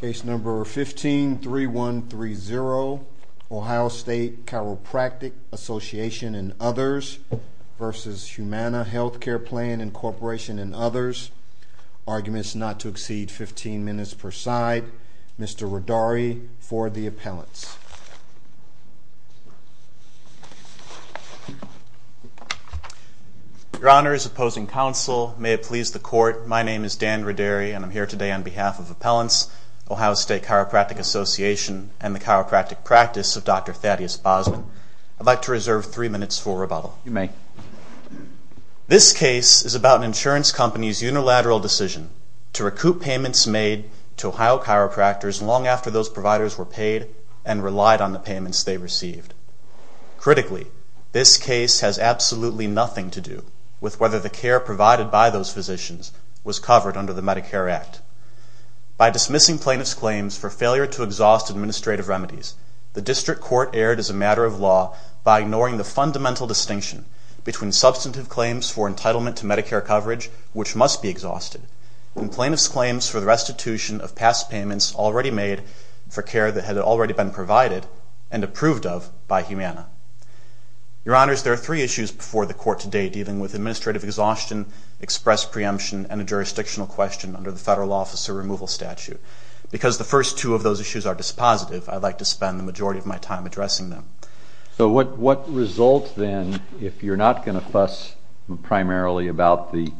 Case No. 15-3130, Ohio State Chiropractic Association and Others v. Humana Healthcare Plan Incorporation and Others. Arguments not to exceed 15 minutes per side. Mr. Rodari for the appellants. Your Honor, as opposing counsel, may it please the court, my name is Dan Rodari and I'm here today on behalf of appellants, Ohio State Chiropractic Association and the chiropractic practice of Dr. Thaddeus Bosman. I'd like to reserve three minutes for rebuttal. This case is about an insurance company's unilateral decision to recoup payments made to Ohio chiropractors long after those providers were paid and relied on the payments they received. Critically, this case has absolutely nothing to do with whether the care provided by those physicians was covered under the Medicare Act. By dismissing plaintiff's claims for failure to exhaust administrative remedies, the district court erred as a matter of law by ignoring the fundamental distinction between substantive claims for entitlement to Medicare coverage, which must be exhausted, and plaintiff's claims for the restitution of past payments already made for care that had already been provided and approved of by Humana. Your Honors, there are three issues before the court today dealing with administrative exhaustion, express preemption, and a jurisdictional question under the federal officer removal statute. Because the first two of those issues are dispositive, I'd like to spend the majority of my time addressing them. So what results then, if you're not going to fuss primarily about the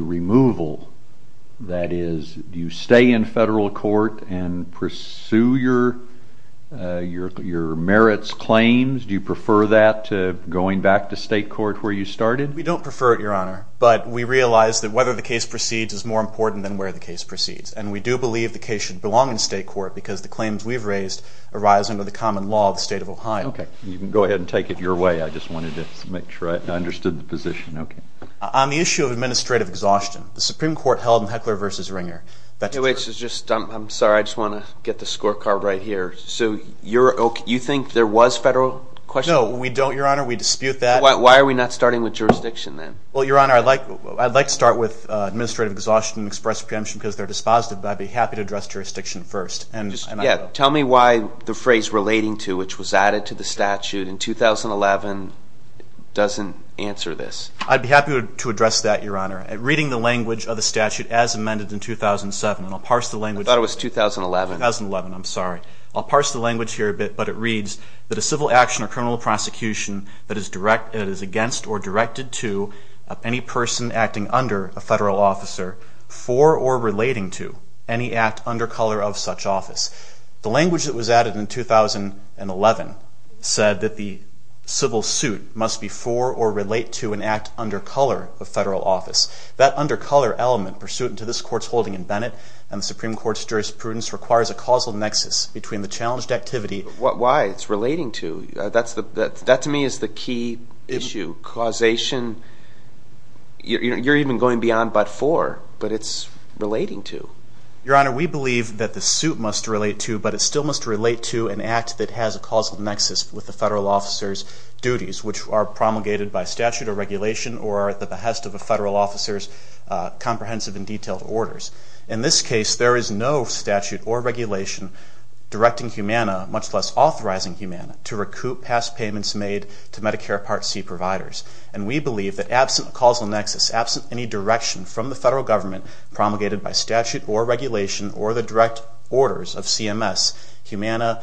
removal, that is, do you stay in federal court and pursue your merits claims? Do you prefer that to going back to state court where you started? We don't prefer it, Your Honor. But we realize that whether the case proceeds is more important than where the case proceeds. And we do believe the case should belong in state court because the claims we've raised arise under the common law of the state of Ohio. Okay. You can go ahead and take it your way. I just wanted to make sure I understood the position. Okay. On the issue of administrative exhaustion, the Supreme Court held in Heckler v. Ringer that- Hey, wait. I'm sorry. I just want to get the scorecard right here. So you think there was federal question? No, we don't, Your Honor. We dispute that. Why are we not starting with jurisdiction then? Well, Your Honor, I'd like to start with administrative exhaustion and express preemption because they're dispositive. But I'd be happy to address jurisdiction first. Yeah. Tell me why the phrase relating to, which was added to the statute in 2011, doesn't answer this. I'd be happy to address that, Your Honor. Reading the language of the statute as amended in 2007, and I'll parse the language- I thought it was 2011. 2011. I'm sorry. I'll parse the language here a bit. But it reads that a civil action or criminal prosecution that is against or directed to any person acting under a federal officer for or relating to any act under color of such office. The language that was added in 2011 said that the civil suit must be for or relate to an act under color of federal office. That under color element pursuant to this Court's holding in Bennett and the Supreme Court's jurisprudence requires a causal nexus between the challenged activity- Why? It's relating to. That to me is the key issue. Causation. You're even going beyond but for, but it's relating to. Your Honor, we believe that the suit must relate to, but it still must relate to, an act that has a causal nexus with the federal officer's duties, which are promulgated by statute or regulation or at the behest of a federal officer's comprehensive and detailed orders. In this case, there is no statute or regulation directing humana, much less authorizing humana, to recoup past payments made to Medicare Part C providers. And we the federal government promulgated by statute or regulation or the direct orders of CMS, humana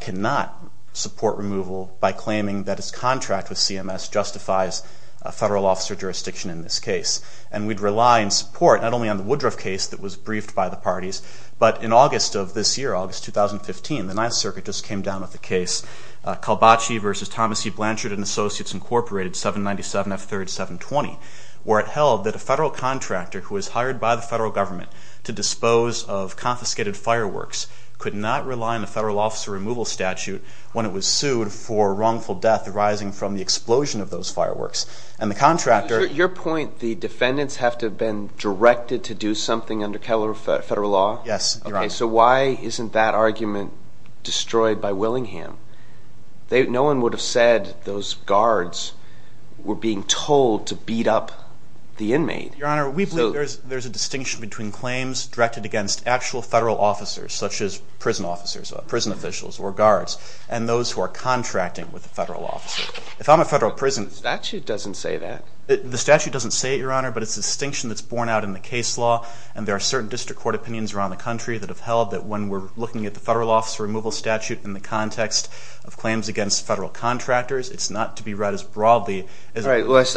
cannot support removal by claiming that its contract with CMS justifies a federal officer jurisdiction in this case. And we'd rely in support not only on the Woodruff case that was briefed by the parties, but in August of this year, August 2015, the Ninth Circuit just came down with a case, Kalbacci v. Thomas E. Blanchard & Associates, Inc. 797F3-720, where it held that a federal contractor who was hired by the federal government to dispose of confiscated fireworks could not rely on a federal officer removal statute when it was sued for wrongful death arising from the explosion of those fireworks. And the contractor Your point, the defendants have to have been directed to do something under federal law? Yes, Your Honor. So why isn't that argument destroyed by Willingham? No one would have said those guards were being told to beat up the inmate. Your Honor, we believe there's a distinction between claims directed against actual federal officers, such as prison officers, prison officials, or guards, and those who are contracting with the federal officer. If I'm a federal prison The statute doesn't say that. The statute doesn't say it, Your Honor, but it's a distinction that's borne out in the case law, and there are certain district court opinions around the country that have held that when we're looking at the federal officer removal statute in the context of claims against federal contractors, it's not to be read as broadly as All right,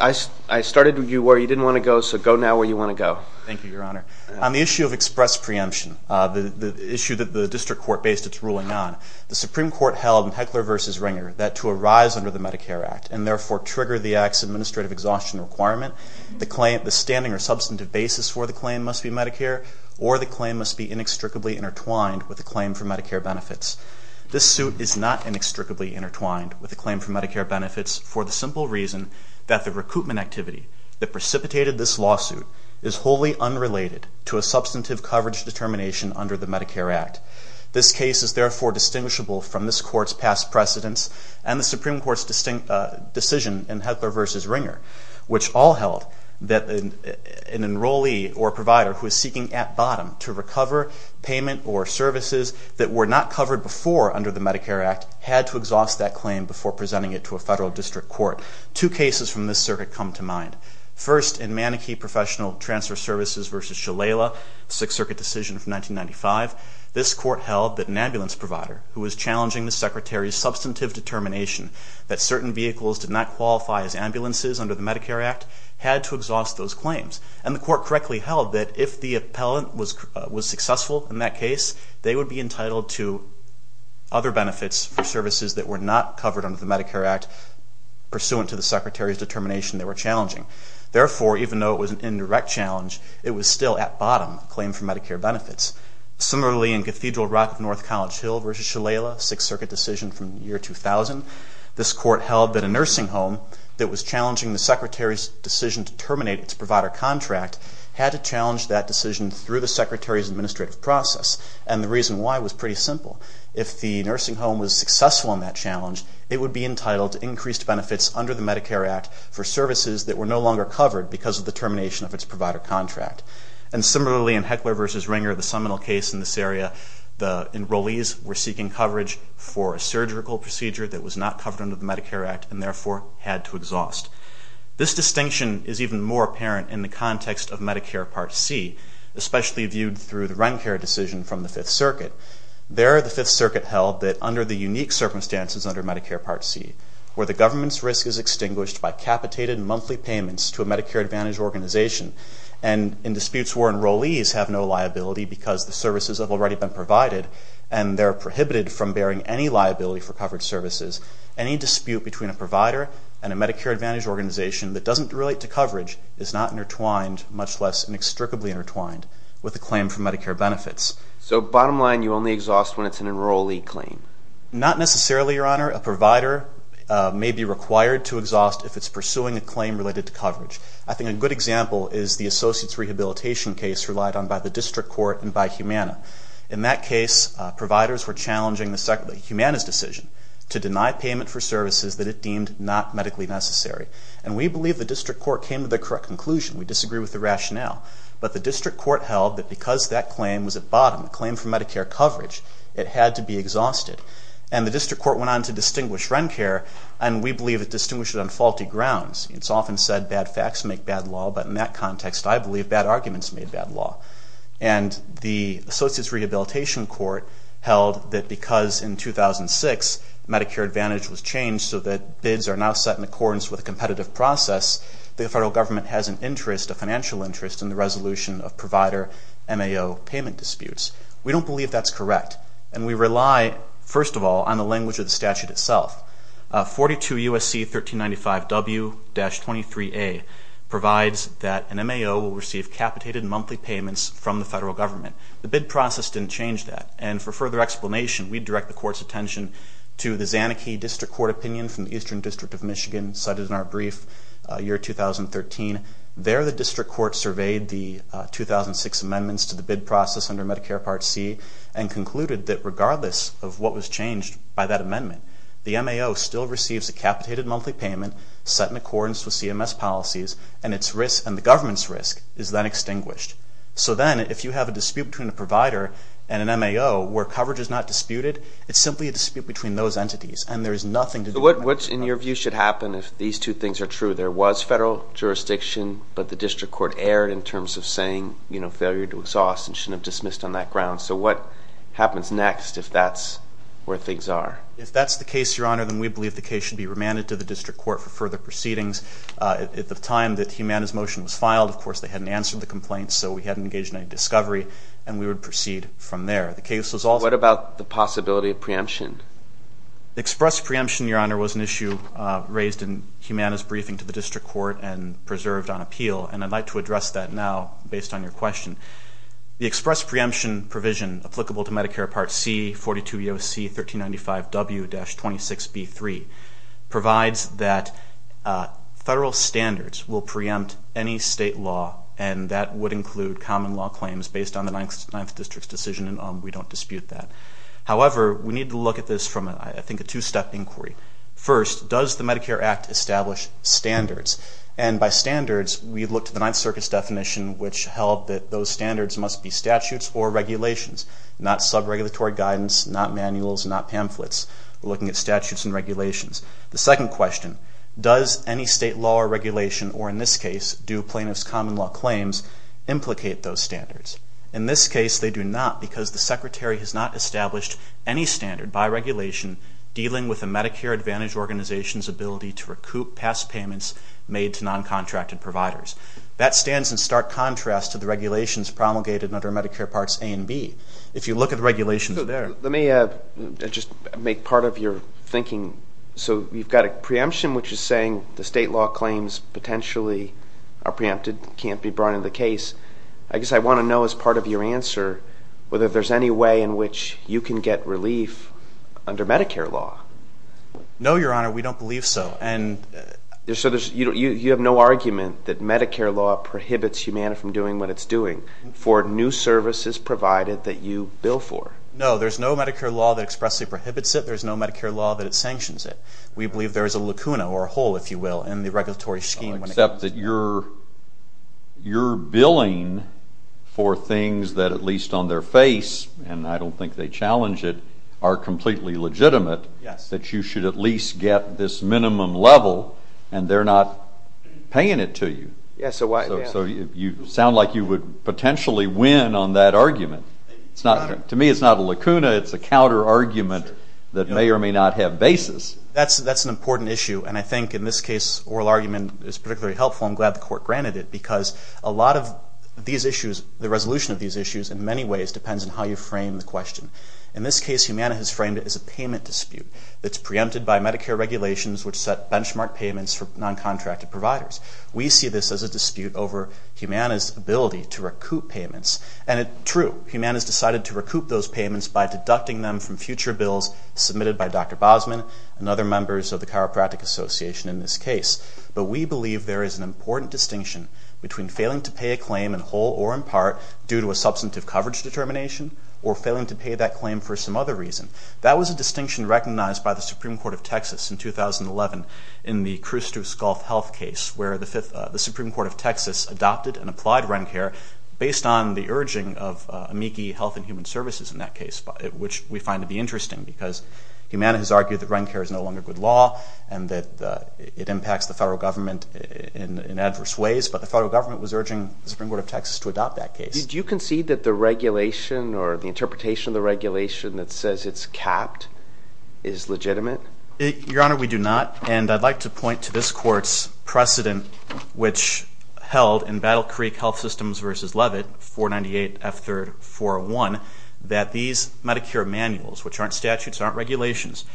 I started where you didn't want to go, so go now where you want to go. Thank you, Your Honor. On the issue of express preemption, the issue that the district court based its ruling on, the Supreme Court held in Heckler v. Ringer that to arise under the Medicare Act and therefore trigger the Act's administrative exhaustion requirement, the standing or substantive basis for the claim must be Medicare, or the claim must be inextricably intertwined with a claim for Medicare benefits. This suit is not inextricably intertwined with a claim for Medicare benefits for the simple reason that the recoupment activity that precipitated this lawsuit is wholly unrelated to a substantive coverage determination under the Medicare Act. This case is therefore distinguishable from this Court's past precedents and the Supreme Court's decision in Heckler v. Ringer, which all held that an enrollee or provider who is seeking at bottom to recover payment or services that were not covered before under the Medicare Act had to exhaust that claim before presenting it to a federal district court. Two cases from this circuit come to mind. First in Manakee Professional Transfer Services v. Shalala, Sixth Circuit decision from 1995, this Court held that an ambulance provider who was challenging the Secretary's substantive determination that certain vehicles did not qualify as ambulances under the Medicare Act had to exhaust those claims. And the Court correctly held that if the appellant was successful in that case, they would be for services that were not covered under the Medicare Act pursuant to the Secretary's determination they were challenging. Therefore, even though it was an indirect challenge, it was still at bottom claim for Medicare benefits. Similarly, in Cathedral Rock v. North College Hill v. Shalala, Sixth Circuit decision from the year 2000, this Court held that a nursing home that was challenging the Secretary's decision to terminate its provider contract had to challenge that decision through the Secretary's administrative process. And the reason why was pretty simple. If the nursing home was successful in that challenge, it would be entitled to increased benefits under the Medicare Act for services that were no longer covered because of the termination of its provider contract. And similarly, in Heckler v. Ringer, the seminal case in this area, the enrollees were seeking coverage for a surgical procedure that was not covered under the Medicare Act and therefore had to exhaust. This distinction is even more apparent in the context of Medicare Part C, especially viewed through the Rencare decision from the Fifth Circuit. There, the Fifth Circuit held that under the unique circumstances under Medicare Part C, where the government's risk is extinguished by capitated monthly payments to a Medicare Advantage organization and in disputes where enrollees have no liability because the services have already been provided and they're prohibited from bearing any liability for covered services, any dispute between a provider and a Medicare Advantage organization that doesn't relate to coverage is not intertwined, much less inextricably intertwined, with a claim for Medicare benefits. So bottom line, you only exhaust when it's an enrollee claim? Not necessarily, Your Honor. A provider may be required to exhaust if it's pursuing a claim related to coverage. I think a good example is the Associates Rehabilitation case relied on by the District Court and by Humana. In that case, providers were challenging the Humana's decision to deny payment for services that it deemed not medically necessary. And we believe the District Court came to the correct conclusion. We disagree with the rationale. But the District Court held that because that claim was at bottom, the claim for Medicare coverage, it had to be exhausted. And the District Court went on to distinguish RENCARE, and we believe it distinguished it on faulty grounds. It's often said bad facts make bad law, but in that context, I believe bad arguments made bad law. And the Associates Rehabilitation Court held that because in 2006 Medicare Advantage was changed so that bids are now set in accordance with a competitive process, the federal government has an interest, a financial interest, in the resolution of provider MAO payment disputes. We don't believe that's correct. And we rely, first of all, on the language of the statute itself. 42 U.S.C. 1395 W-23A provides that an MAO will receive capitated monthly payments from the federal government. The bid process didn't change that. And for further explanation, we direct the Court's attention to the Zanarchy District Court opinion from the Eastern District of Michigan cited in our brief year 2013. There the District Court surveyed the 2006 amendments to the bid process under Medicare Part C and concluded that regardless of what was changed by that amendment, the MAO still receives a capitated monthly payment set in accordance with CMS policies, and the government's risk is then extinguished. So then if you have a dispute between a provider and an MAO where coverage is not disputed, it's simply a dispute between those entities. And there is nothing to do about that. So what, in your view, should happen if these two things are true? There was federal jurisdiction, but the District Court erred in terms of saying, you know, failure to exhaust and shouldn't have dismissed on that ground. So what happens next if that's where things are? If that's the case, Your Honor, then we believe the case should be remanded to the District Court for further proceedings. At the time that Humana's motion was filed, of course, they hadn't answered the complaint, so we hadn't engaged in any discovery. And we would proceed from there. The case was also... What about the possibility of preemption? Express preemption, Your Honor, was an issue raised in Humana's briefing to the District Court and preserved on appeal, and I'd like to address that now based on your question. The express preemption provision applicable to Medicare Part C, 42 EOC 1395W-26B3, provides that federal standards will preempt any state law, and that would include common law claims based on the 9th District's decision, and we don't dispute that. However, we need to look at this from, I think, a two-step inquiry. First, does the Medicare Act establish standards? And by standards, we look to the 9th Circuit's definition, which held that those standards must be statutes or regulations, not sub-regulatory guidance, not manuals, not pamphlets. We're looking at statutes and regulations. The second question, does any state law or regulation, or in this case, do plaintiff's common law claims implicate those standards? In this case, they do not, because the Secretary has not established any standard by regulation dealing with a Medicare Advantage organization's ability to recoup past payments made to non-contracted providers. That stands in stark contrast to the regulations promulgated under Medicare Parts A and B. If you look at the regulations there. Let me just make part of your thinking. So you've got a preemption, which is saying the state law claims potentially are preempted, can't be brought into the case. I guess I want to know, as part of your answer, whether there's any way in which you can get relief under Medicare law. No, Your Honor, we don't believe so. And... So you have no argument that Medicare law prohibits you from doing what it's doing for new services provided that you bill for? No, there's no Medicare law that expressly prohibits it. There's no Medicare law that sanctions it. We believe there is a lacuna, or a hole, if you will, in the regulatory scheme. Except that you're billing for things that, at least on their face, and I don't think they challenge it, are completely legitimate, that you should at least get this minimum level and they're not paying it to you. So you sound like you would potentially win on that argument. To me it's not a lacuna, it's a counter-argument that may or may not have basis. That's an important issue, and I think in this case, oral argument is particularly helpful. I'm glad the Court granted it, because a lot of these issues, the resolution of these issues, in many ways, depends on how you frame the question. In this case, Humana has framed it as a payment dispute that's preempted by Medicare regulations which set benchmark payments for non-contracted providers. We see this as a dispute over Humana's ability to recoup payments. And it's true. Humana's decided to recoup those payments by deducting them from future bills submitted by Dr. Bosman and other members of the Chiropractic Association in this case. But we believe there is an important distinction between failing to pay a claim in whole or in part due to a substantive coverage determination, or failing to pay that claim for some other reason. That was a distinction recognized by the Supreme Court of Texas in 2011 in the Khrustos Gulf Health case, where the Supreme Court of Texas adopted and applied REN care based on the urging of Amici Health and Human Services in that case, which we find to be interesting because Humana has argued that REN care is no longer good law and that it impacts the federal government in adverse ways. But the federal government was urging the Supreme Court of Texas to adopt that case. Do you concede that the regulation or the interpretation of the regulation that says it's capped is legitimate? Your Honor, we do not. And I'd like to point to this Court's precedent, which held in Battle Creek Health Systems v. Levitt, 498 F.3.401, that these Medicare manuals, which aren't statutes, aren't regulations,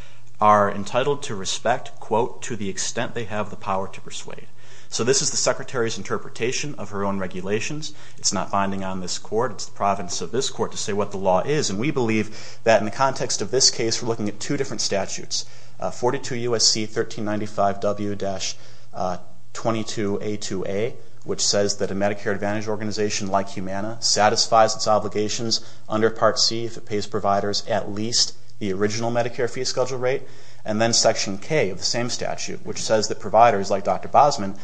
are entitled to respect, quote, to the extent they have the power to persuade. So this is the Secretary's interpretation of her own regulations. It's not binding on this Court. It's the providence of this Court to say what the law is. And we believe that in the context of this case, we're looking at two different statutes 42 U.S.C. 1395 W-22A2A, which says that a Medicare Advantage organization like Humana satisfies its obligations under Part C if it pays providers at least the original Medicare fee schedule rate. And then Section K of the same statute, which says that providers, like Dr. Bosman,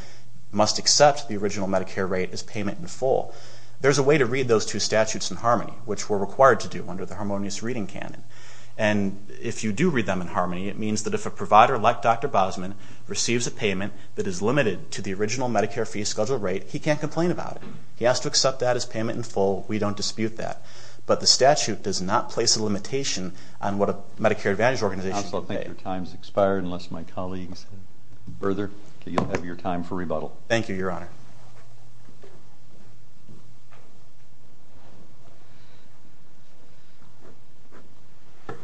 must accept the original Medicare rate as payment in full. There's a way to read those two statutes in harmony, which we're required to do under the harmonious reading canon. And if you do read them in harmony, it means that if a provider, like Dr. Bosman, receives a payment that is limited to the original Medicare fee schedule rate, he can't complain about it. He has to accept that as payment in full. We don't dispute that. But the statute does not place a limitation on what a Medicare Advantage organization can pay. I also think your time's expired, unless my colleagues further. You'll have your time for rebuttal. Thank you, Your Honor. Good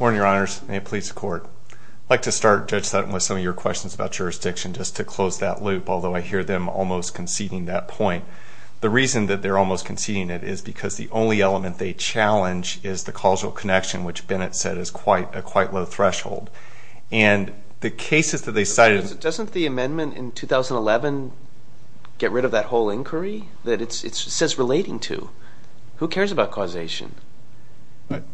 morning, Your Honors, and may it please the Court. I'd like to start, Judge Sutton, with some of your questions about jurisdiction, just to close that loop, although I hear them almost conceding that point. The reason that they're almost conceding it is because the only element they challenge is the causal connection, which Bennett said is quite a low threshold. And the cases that they cited... Doesn't the amendment in 2011 get rid of that whole inquiry that it says relating to? Who cares about causation?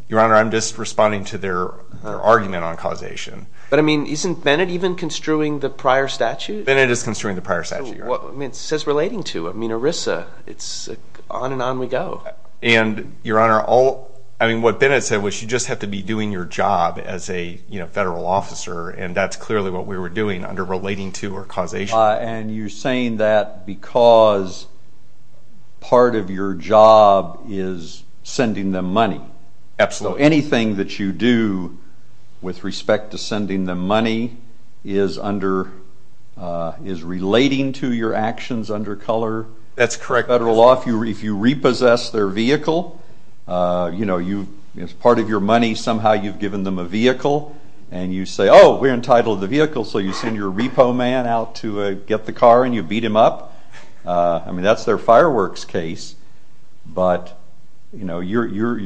Your Honor, I'm just responding to their argument on causation. But, I mean, isn't Bennett even construing the prior statute? Bennett is construing the prior statute, Your Honor. I mean, it says relating to. I mean, ERISA, it's on and on we go. And, Your Honor, I mean, what Bennett said was you just have to be doing your job as a federal officer, and that's clearly what we were doing under relating to or causation. And you're saying that because part of your job is sending them money. Absolutely. So anything that you do with respect to sending them money is under...is relating to your actions under color? That's correct. Federal law, if you repossess their vehicle, you know, as part of your money, somehow you've given them a vehicle, and you say, oh, we're entitled to the vehicle, so you send your get the car, and you beat them up. I mean, that's their fireworks case, but, you know, you're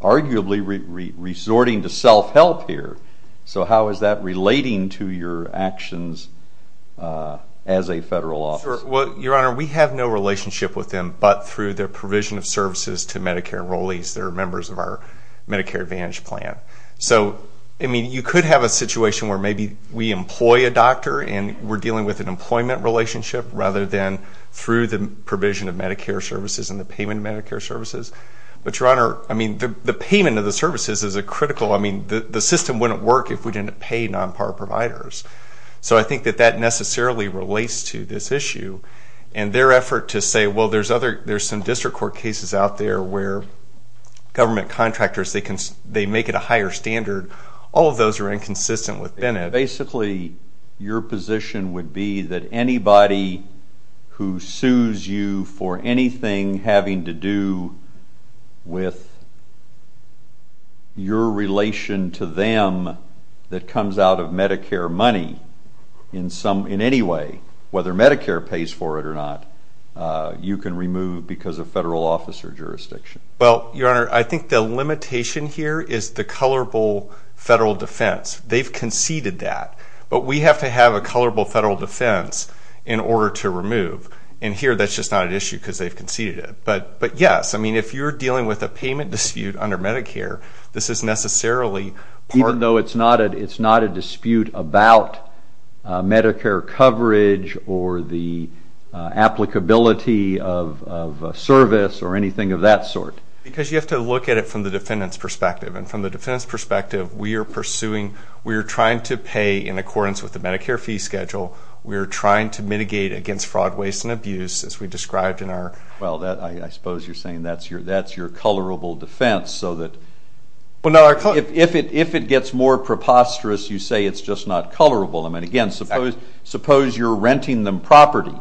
arguably resorting to self-help here. So how is that relating to your actions as a federal officer? Well, Your Honor, we have no relationship with them but through their provision of services to Medicare enrollees that are members of our Medicare Advantage plan. So, I mean, you could have a situation where maybe we employ a doctor and we're dealing with an employment relationship rather than through the provision of Medicare services and the payment of Medicare services, but, Your Honor, I mean, the payment of the services is a critical...I mean, the system wouldn't work if we didn't pay non-PAR providers. So I think that that necessarily relates to this issue, and their effort to say, well, there's some district court cases out there where government contractors, they make it a higher standard. All of those are inconsistent with Bennett. Basically, your position would be that anybody who sues you for anything having to do with your relation to them that comes out of Medicare money in some...in any way, whether Medicare pays for it or not, you can remove because of federal officer jurisdiction. Well, Your Honor, I think the limitation here is the colorable federal defense. They've conceded that, but we have to have a colorable federal defense in order to remove. And here, that's just not an issue because they've conceded it. But, yes, I mean, if you're dealing with a payment dispute under Medicare, this is necessarily part... Even though it's not a dispute about Medicare coverage or the applicability of service or Because you have to look at it from the defendant's perspective. And from the defendant's perspective, we are pursuing...we are trying to pay in accordance with the Medicare fee schedule. We are trying to mitigate against fraud, waste, and abuse, as we described in our... Well, I suppose you're saying that's your colorable defense, so that if it gets more preposterous, you say it's just not colorable. I mean, again, suppose you're renting them property,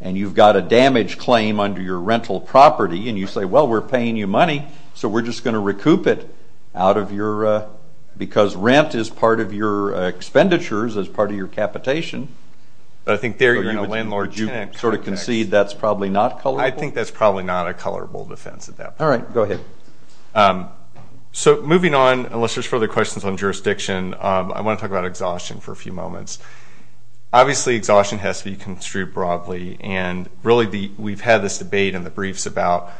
and you've got a damage claim under your rental property, and you say, well, we're paying you money, so we're just going to recoup it out of your...because rent is part of your expenditures as part of your capitation. But I think there you're in a landlord-tenant context. Would you sort of concede that's probably not colorable? I think that's probably not a colorable defense at that point. All right. Go ahead. So, moving on, unless there's further questions on jurisdiction, I want to talk about exhaustion for a few moments. Obviously, exhaustion has to be construed broadly. And really, we've had this debate in the briefs about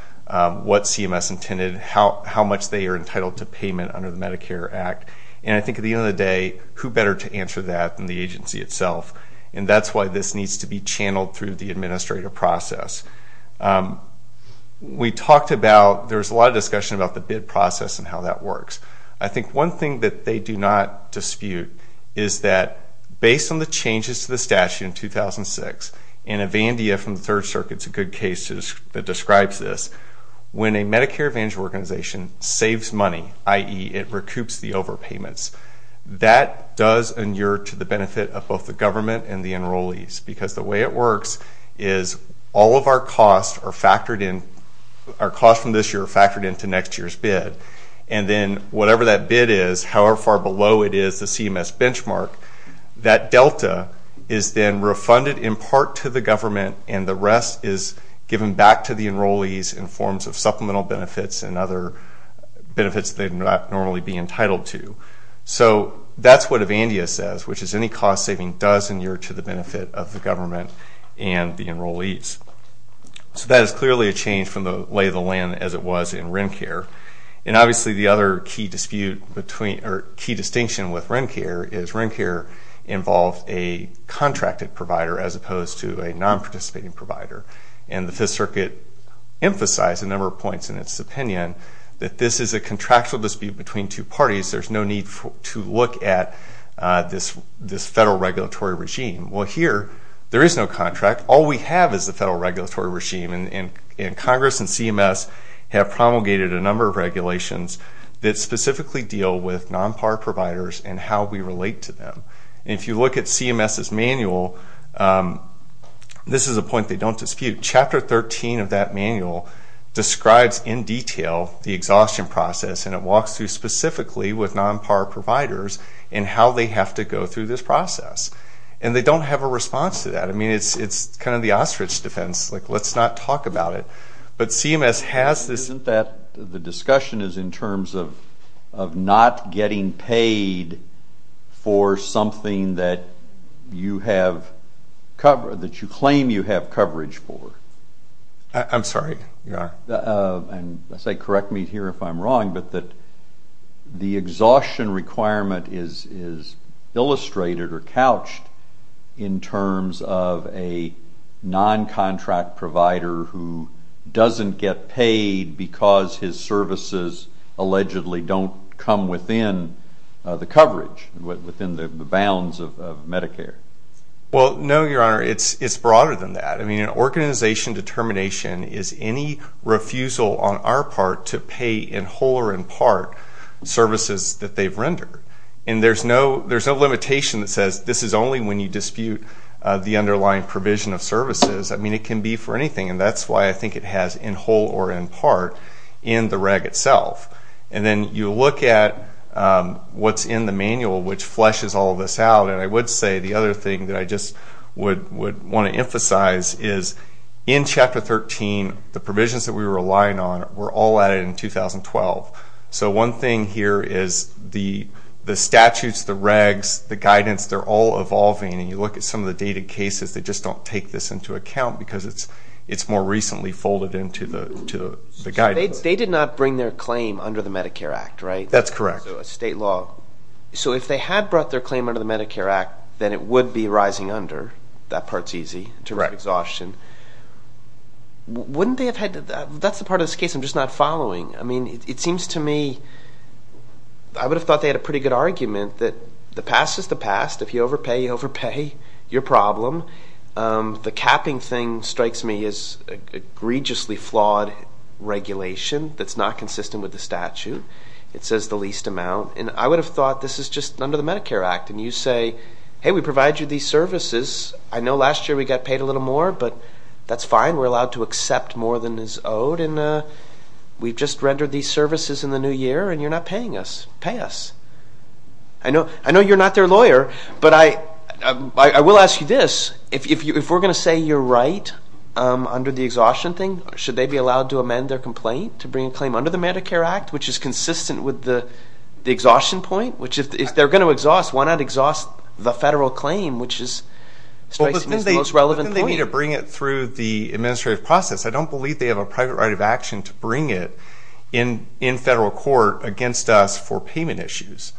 what CMS intended, how much they are entitled to payment under the Medicare Act. And I think at the end of the day, who better to answer that than the agency itself? And that's why this needs to be channeled through the administrative process. We talked about...there was a lot of discussion about the bid process and how that works. I think one thing that they do not dispute is that, based on the changes to the statute in 2006, and Evandia from the Third Circuit's a good case that describes this, when a Medicare Advantage organization saves money, i.e., it recoups the overpayments, that does endure to the benefit of both the government and the enrollees. Because the way it works is all of our costs are factored in...our costs from this year are factored into next year's bid. And then, whatever that bid is, however far below it is the CMS benchmark, that delta is then refunded in part to the government and the rest is given back to the enrollees in forms of supplemental benefits and other benefits they'd not normally be entitled to. So that's what Evandia says, which is any cost saving does endure to the benefit of the government and the enrollees. So that is clearly a change from the lay of the land as it was in RENcare. And obviously the other key dispute between...or key distinction with RENcare is RENcare involved a contracted provider as opposed to a non-participating provider. And the Fifth Circuit emphasized a number of points in its opinion that this is a contractual dispute between two parties. There's no need to look at this federal regulatory regime. Well here, there is no contract. All we have is the federal regulatory regime and Congress and CMS have promulgated a number of regulations that specifically deal with non-PAR providers and how we relate to them. And if you look at CMS's manual, this is a point they don't dispute. Chapter 13 of that manual describes in detail the exhaustion process and it walks through specifically with non-PAR providers and how they have to go through this process. And they don't have a response to that. I mean it's kind of the ostrich defense, like let's not talk about it. But CMS has this... Isn't that the discussion is in terms of not getting paid for something that you have cover...that you claim you have coverage for? I'm sorry. And correct me here if I'm wrong, but the exhaustion requirement is illustrated or couched in terms of a non-contract provider who doesn't get paid because his services allegedly don't come within the coverage, within the bounds of Medicare. Well, no, your honor. It's broader than that. I mean an organization determination is any refusal on our part to pay in whole or in part services that they've rendered. And there's no limitation that says this is only when you dispute the underlying provision of services. I mean it can be for anything and that's why I think it has in whole or in part in the reg itself. And then you look at what's in the manual which fleshes all of this out and I would say the other thing that I just would want to emphasize is in Chapter 13, the provisions that we were relying on were all added in 2012. So one thing here is the statutes, the regs, the guidance, they're all evolving and you look at some of the dated cases, they just don't take this into account because it's more recently folded into the guidance. They did not bring their claim under the Medicare Act, right? That's correct. So a state law. So if they had brought their claim under the Medicare Act, then it would be rising under. That part's easy in terms of exhaustion. Wouldn't they have had, that's the part of this case I'm just not following. I mean it seems to me, I would have thought they had a pretty good argument that the past is the past. If you overpay, you overpay your problem. The capping thing strikes me as egregiously flawed regulation that's not consistent with the statute. It says the least amount and I would have thought this is just under the Medicare Act and you say, hey we provide you these services. I know last year we got paid a little more but that's fine. We're allowed to accept more than is owed and we've just rendered these services in the new year and you're not paying us. Pay us. I know you're not their lawyer but I will ask you this. If we're going to say you're right under the exhaustion thing, should they be allowed to amend their complaint to bring a claim under the Medicare Act, which is consistent with the exhaustion point, which if they're going to exhaust, why not exhaust the federal claim which is, strikes me as the most relevant point. I don't believe they need to bring it through the administrative process. I don't believe they have a private right of action to bring it in federal court against us for payment issues.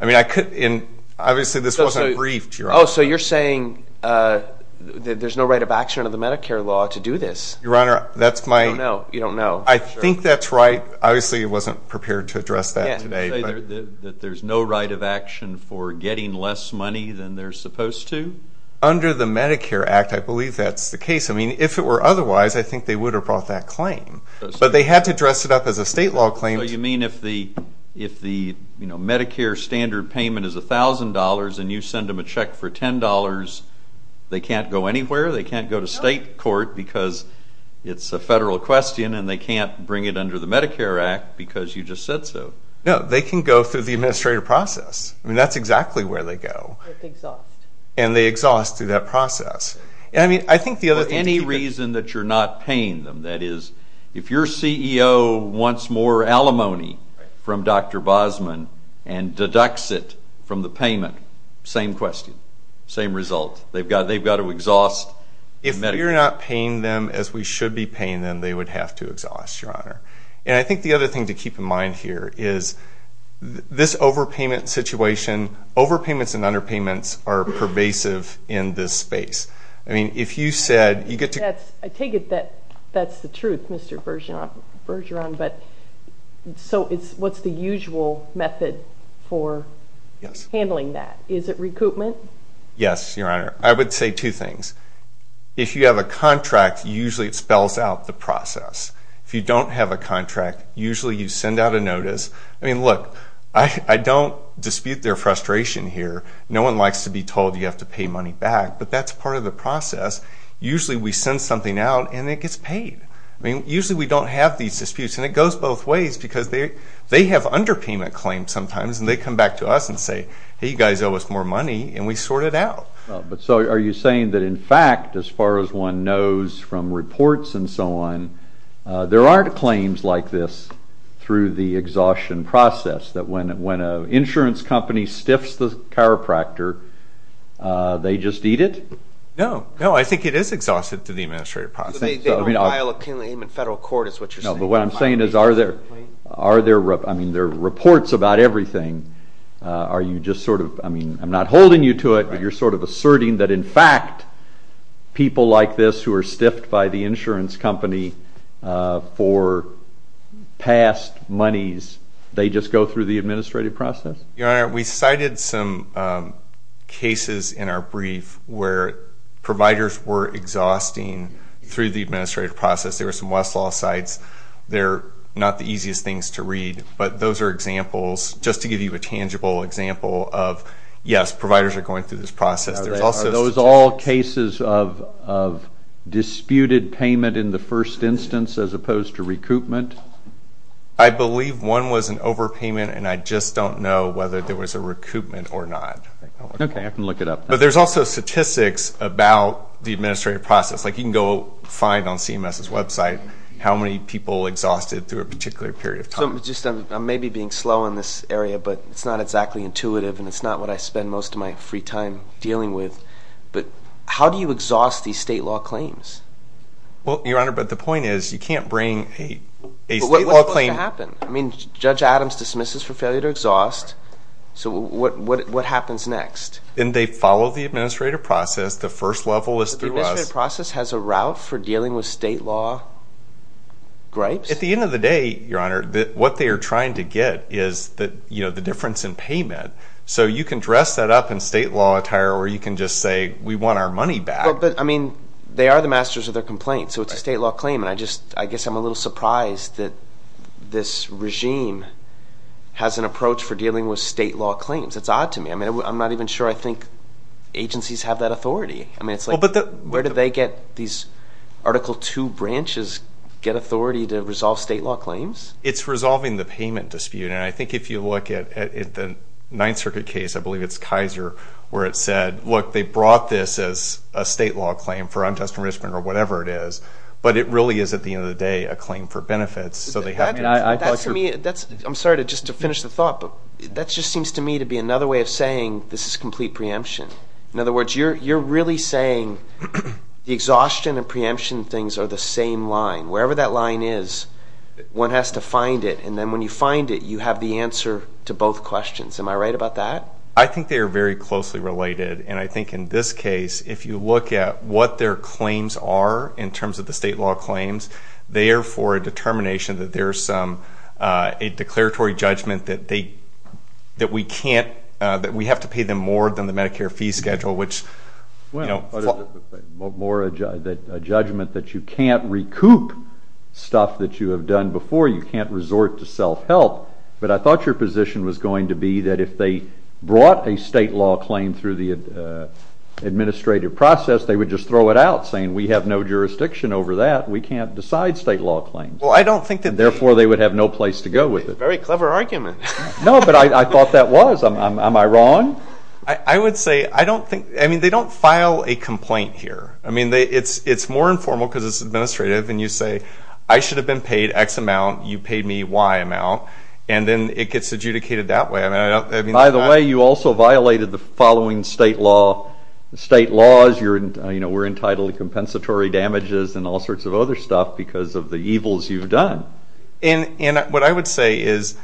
I mean I could, and obviously this wasn't briefed, Your Honor. So you're saying that there's no right of action under the Medicare law to do this? Your Honor, that's my. I don't know. You don't know. I think that's right. Obviously it wasn't prepared to address that today. There's no right of action for getting less money than they're supposed to? Under the Medicare Act, I believe that's the case. I mean if it were otherwise, I think they would have brought that claim. But they had to dress it up as a state law claim. So you mean if the Medicare standard payment is $1,000 and you send them a check for $10, they can't go anywhere? They can't go to state court because it's a federal question and they can't bring it under the Medicare Act because you just said so? No, they can go through the administrative process. I mean that's exactly where they go. And they exhaust through that process. I think the other thing... For any reason that you're not paying them, that is, if your CEO wants more alimony from Dr. Bosman and deducts it from the payment, same question, same result. They've got to exhaust. If you're not paying them as we should be paying them, they would have to exhaust, Your Honor. And I think the other thing to keep in mind here is this overpayment situation, overpayments and underpayments are pervasive in this space. If you said... I take it that that's the truth, Mr. Bergeron, but what's the usual method for handling that? Is it recoupment? Yes, Your Honor. I would say two things. If you have a contract, usually it spells out the process. If you don't have a contract, usually you send out a notice. I mean, look, I don't dispute their frustration here. No one likes to be told you have to pay money back, but that's part of the process. Usually we send something out and it gets paid. I mean, usually we don't have these disputes and it goes both ways because they have underpayment claims sometimes and they come back to us and say, hey, you guys owe us more money and we sort it out. But so are you saying that in fact, as far as one knows from reports and so on, there aren't claims like this through the exhaustion process, that when an insurance company stiffs the chiropractor, they just eat it? No. No, I think it is exhausted through the administrative process. So they don't file a claim in federal court is what you're saying? No, but what I'm saying is are there... Are there... I mean, there are reports about everything. Are you just sort of... I mean, I'm not holding you to it, but you're sort of asserting that in fact, people like this who are stiffed by the insurance company for past monies, they just go through the administrative process? Your Honor, we cited some cases in our brief where providers were exhausting through the administrative process. There were some Westlaw sites. They're not the easiest things to read, but those are examples, just to give you a tangible example of, yes, providers are going through this process. Are those all cases of disputed payment in the first instance as opposed to recoupment? I believe one was an overpayment, and I just don't know whether there was a recoupment or not. Okay, I can look it up. But there's also statistics about the administrative process. Like, you can go find on CMS's website how many people exhausted through a particular period of time. So, I'm maybe being slow in this area, but it's not exactly intuitive, and it's not what I spend most of my free time dealing with. But how do you exhaust these state law claims? Well, Your Honor, but the point is, you can't bring a state law claim... But what's supposed to happen? I mean, Judge Adams dismisses for failure to exhaust, so what happens next? And they follow the administrative process. The first level is through us. But the administrative process has a route for dealing with state law gripes? At the end of the day, Your Honor, what they are trying to get is the difference in payment. So, you can dress that up in state law attire, or you can just say, we want our money back. But, I mean, they are the masters of their complaints, so it's a state law claim. And I just, I guess I'm a little surprised that this regime has an approach for dealing with state law claims. It's odd to me. I mean, I'm not even sure I think agencies have that authority. I mean, it's like, where do they get these Article II branches get authority to resolve state law claims? It's resolving the payment dispute. And I think if you look at the Ninth Circuit case, I believe it's Kaiser, where it said, look, they brought this as a state law claim for unjust enrichment or whatever it is. But it really is, at the end of the day, a claim for benefits. So they have to- I mean, I- That to me, that's, I'm sorry to just to finish the thought, but that just seems to me to be another way of saying this is complete preemption. In other words, you're really saying the exhaustion and preemption things are the same line. Wherever that line is, one has to find it. And then when you find it, you have the answer to both questions. Am I right about that? I think they are very closely related. And I think in this case, if you look at what their claims are in terms of the state law claims, they are for a determination that there's a declaratory judgment that we can't, that we have to pay them more than the Medicare fee schedule, which- More a judgment that you can't recoup stuff that you have done before. You can't resort to self-help. But I thought your position was going to be that if they brought a state law claim through the administrative process, they would just throw it out, saying we have no jurisdiction over that. We can't decide state law claims. Well, I don't think that- Therefore, they would have no place to go with it. Very clever argument. No, but I thought that was. Am I wrong? I would say, I don't think, I mean, they don't file a complaint here. I mean, it's more informal because it's administrative, and you say, I should have been paid X amount, you paid me Y amount, and then it gets adjudicated that way. By the way, you also violated the following state law, state laws, you're, you know, we're entitled to compensatory damages and all sorts of other stuff because of the evils you've done. And what I would say is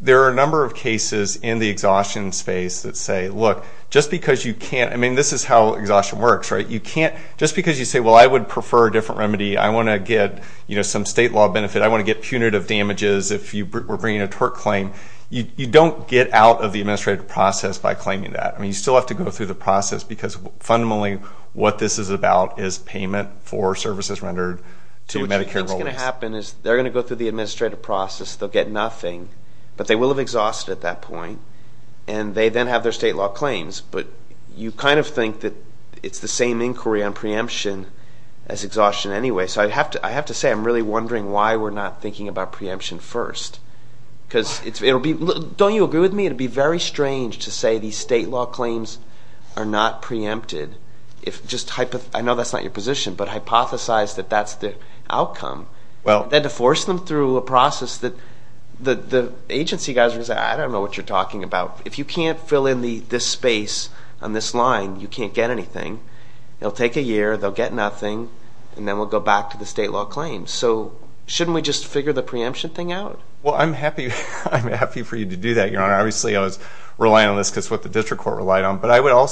there are a number of cases in the exhaustion space that say, look, just because you can't, I mean, this is how exhaustion works, right? You can't, just because you say, well, I would prefer a different remedy, I want to get, you know, some state law benefit, I want to get punitive damages if you were bringing a tort claim, you don't get out of the administrative process by claiming that. I mean, you still have to go through the process because fundamentally, what this is about is payment for services rendered to Medicare rollouts. What's going to happen is they're going to go through the administrative process, they'll get nothing, but they will have exhausted at that point, and they then have their state law claims. But you kind of think that it's the same inquiry on preemption as exhaustion anyway. So I'd have to, I have to say, I'm really wondering why we're not thinking about preemption first because it'll be, don't you agree with me? It'd be very strange to say these state law claims are not preempted if just, I know that's not your position, but hypothesize that that's the outcome, then to force them through a process that the agency guys are going to say, I don't know what you're talking about. If you can't fill in this space on this line, you can't get anything, it'll take a year, they'll get nothing, and then we'll go back to the state law claims. So shouldn't we just figure the preemption thing out? Well, I'm happy, I'm happy for you to do that, Your Honor. Obviously I was relying on this because it's what the district court relied on, but I would agree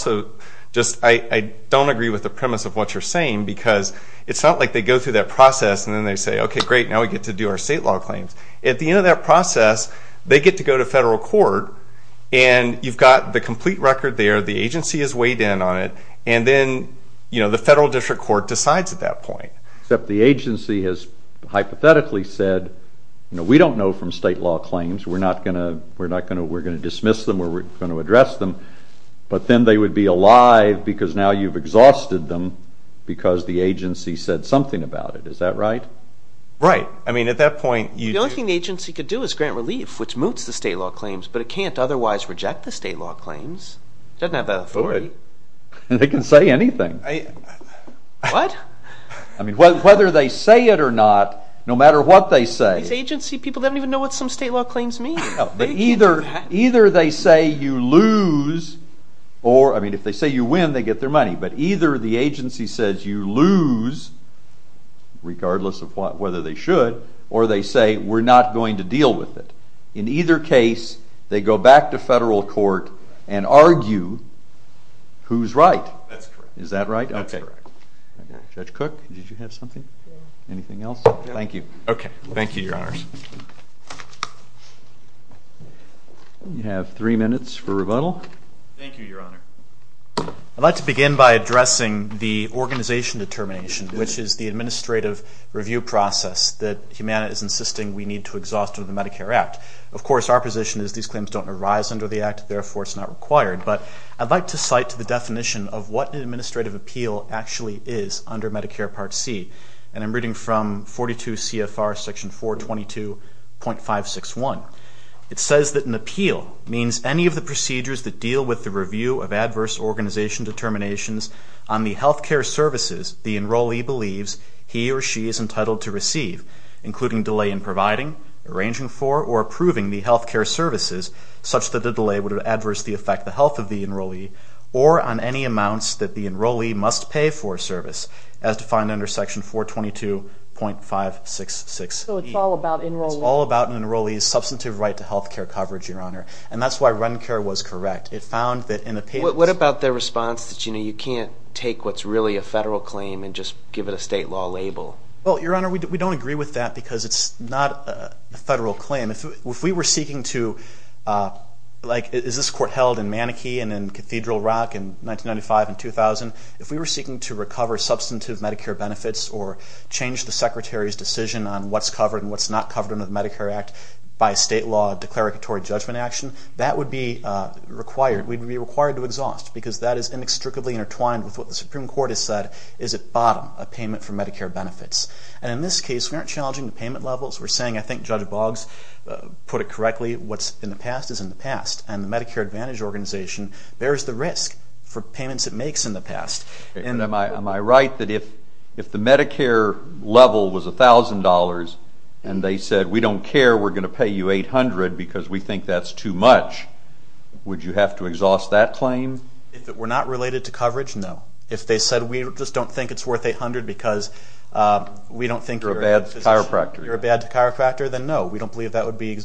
with what you're saying because it's not like they go through that process and then they say, okay, great, now we get to do our state law claims. At the end of that process, they get to go to federal court and you've got the complete record there, the agency has weighed in on it, and then the federal district court decides at that point. Except the agency has hypothetically said, we don't know from state law claims, we're not going to, we're not going to, we're going to dismiss them, we're going to address them, but then they would be alive because now you've exhausted them because the agency said something about it. Is that right? Right. I mean, at that point, you'd... The only thing the agency could do is grant relief, which moots the state law claims, but it can't otherwise reject the state law claims. It doesn't have that authority. And they can say anything. What? I mean, whether they say it or not, no matter what they say... These agency people don't even know what some state law claims mean. No, but either they say you lose or, I mean, if they say you win, they get their money, but either the agency says you lose, regardless of whether they should, or they say, we're not going to deal with it. In either case, they go back to federal court and argue who's right. That's correct. Is that right? That's correct. Okay. Judge Cook, did you have something? Yeah. Anything else? Thank you. Okay. Thank you, Your Honors. You have three minutes for rebuttal. Thank you, Your Honor. I'd like to begin by addressing the organization determination, which is the administrative review process that Humana is insisting we need to exhaust under the Medicare Act. Of course, our position is these claims don't arise under the Act, therefore it's not required, but I'd like to cite the definition of what an administrative appeal actually is under Medicare Part C. I'm reading from 42 CFR section 422.561. It says that an appeal means any of the procedures that deal with the review of adverse organization determinations on the health care services the enrollee believes he or she is entitled to receive, including delay in providing, arranging for, or approving the health care services such that the delay would adverse the effect the health of the enrollee, or on any amounts that the enrollee must pay for a service, as defined under section 422.566E. So it's all about enrolling. It's all about an enrollee's substantive right to health care coverage, Your Honor. And that's why Runcare was correct. It found that in a patent... What about their response that you can't take what's really a federal claim and just give it a state law label? Well, Your Honor, we don't agree with that because it's not a federal claim. If we were seeking to... Is this court held in Manakee and in Cathedral Rock in 1995 and 2000? If we were seeking to recover substantive Medicare benefits or change the Secretary's decision on what's covered and what's not covered under the Medicare Act by a state law declaratory judgment action, that would be required. We'd be required to exhaust because that is inextricably intertwined with what the Supreme Court has said is at bottom, a payment for Medicare benefits. And in this case, we aren't challenging the payment levels. We're saying, I think Judge Boggs put it correctly, what's in the past is in the past. And the Medicare Advantage Organization bears the risk for payments it makes in the past. And am I right that if the Medicare level was $1,000 and they said, we don't care, we're going to pay you $800 because we think that's too much, would you have to exhaust that claim? If it were not related to coverage, no. If they said, we just don't think it's worth $800 because we don't think you're a... You're a bad chiropractor. ...you're a bad chiropractor, then no, we don't believe that would be,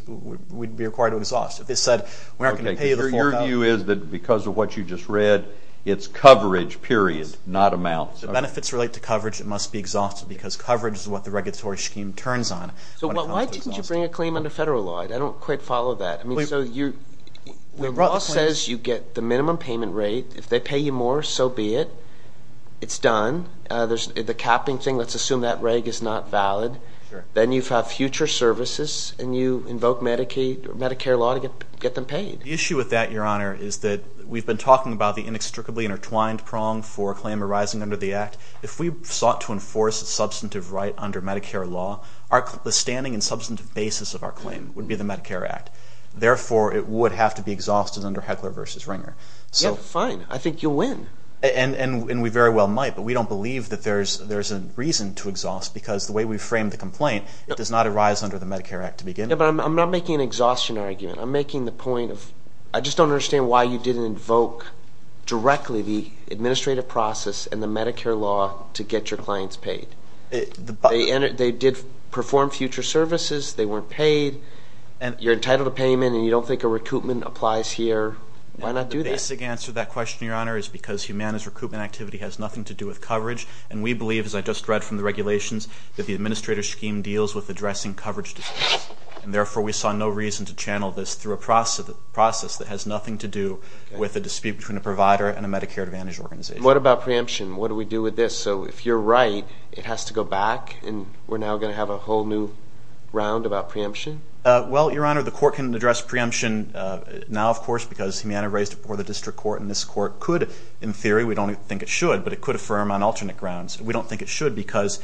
we'd be required to exhaust. If they said, we're not going to pay you the full amount... Okay, so your view is that because of what you just read, it's coverage, period, not amounts. The benefits relate to coverage, it must be exhausted because coverage is what the regulatory scheme turns on. So why didn't you bring a claim under federal law? I don't quite follow that. I mean, so you're, the law says you get the minimum payment rate. If they pay you more, so be it. It's done. There's the capping thing. Let's assume that reg is not valid. Sure. Then you have future services and you invoke Medicaid or Medicare law to get them paid. The issue with that, your honor, is that we've been talking about the inextricably intertwined prong for a claim arising under the act. If we sought to enforce a substantive right under Medicare law, the standing and substantive basis of our claim would be the Medicare act. Therefore, it would have to be exhausted under Heckler versus Ringer. Yeah, fine. I think you'll win. And we very well might, but we don't believe that there's a reason to exhaust because the way we framed the complaint, it does not arise under the Medicare act to begin with. Yeah, but I'm not making an exhaustion argument. I'm making the point of, I just don't understand why you didn't invoke directly the administrative process and the Medicare law to get your clients paid. They did perform future services. They weren't paid. You're entitled to payment and you don't think a recoupment applies here. Why not do that? The basic answer to that question, your honor, is because humanist recoupment activity has nothing to do with coverage. And we believe, as I just read from the regulations, that the administrator scheme deals with addressing coverage disputes. And therefore, we saw no reason to channel this through a process that has nothing to do with a dispute between a provider and a Medicare Advantage organization. What about preemption? What do we do with this? So if you're right, it has to go back and we're now going to have a whole new round about preemption? Well, your honor, the court can address preemption now, of course, because Humana raised it before the district court and this court could, in theory, we don't think it should, but it could be reaffirmed on alternate grounds. We don't think it should because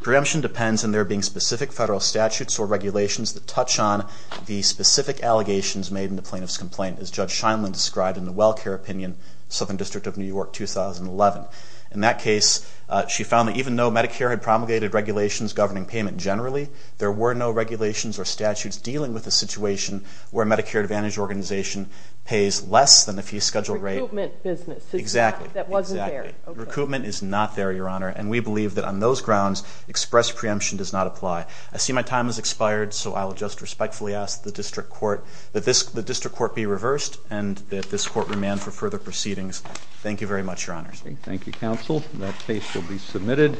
preemption depends on there being specific federal statutes or regulations that touch on the specific allegations made in the plaintiff's complaint, as Judge Scheinle described in the Well Care Opinion, Southern District of New York, 2011. In that case, she found that even though Medicare had promulgated regulations governing payment generally, there were no regulations or statutes dealing with the situation where a Medicare Advantage organization pays less than the fee schedule rate. Recoupment business. Exactly. That wasn't there. Exactly. Recoupment is not there, your honor, and we believe that on those grounds, express preemption does not apply. I see my time has expired, so I will just respectfully ask the district court, that the district court be reversed and that this court remand for further proceedings. Thank you very much, your honors. Thank you, counsel. That case will be submitted.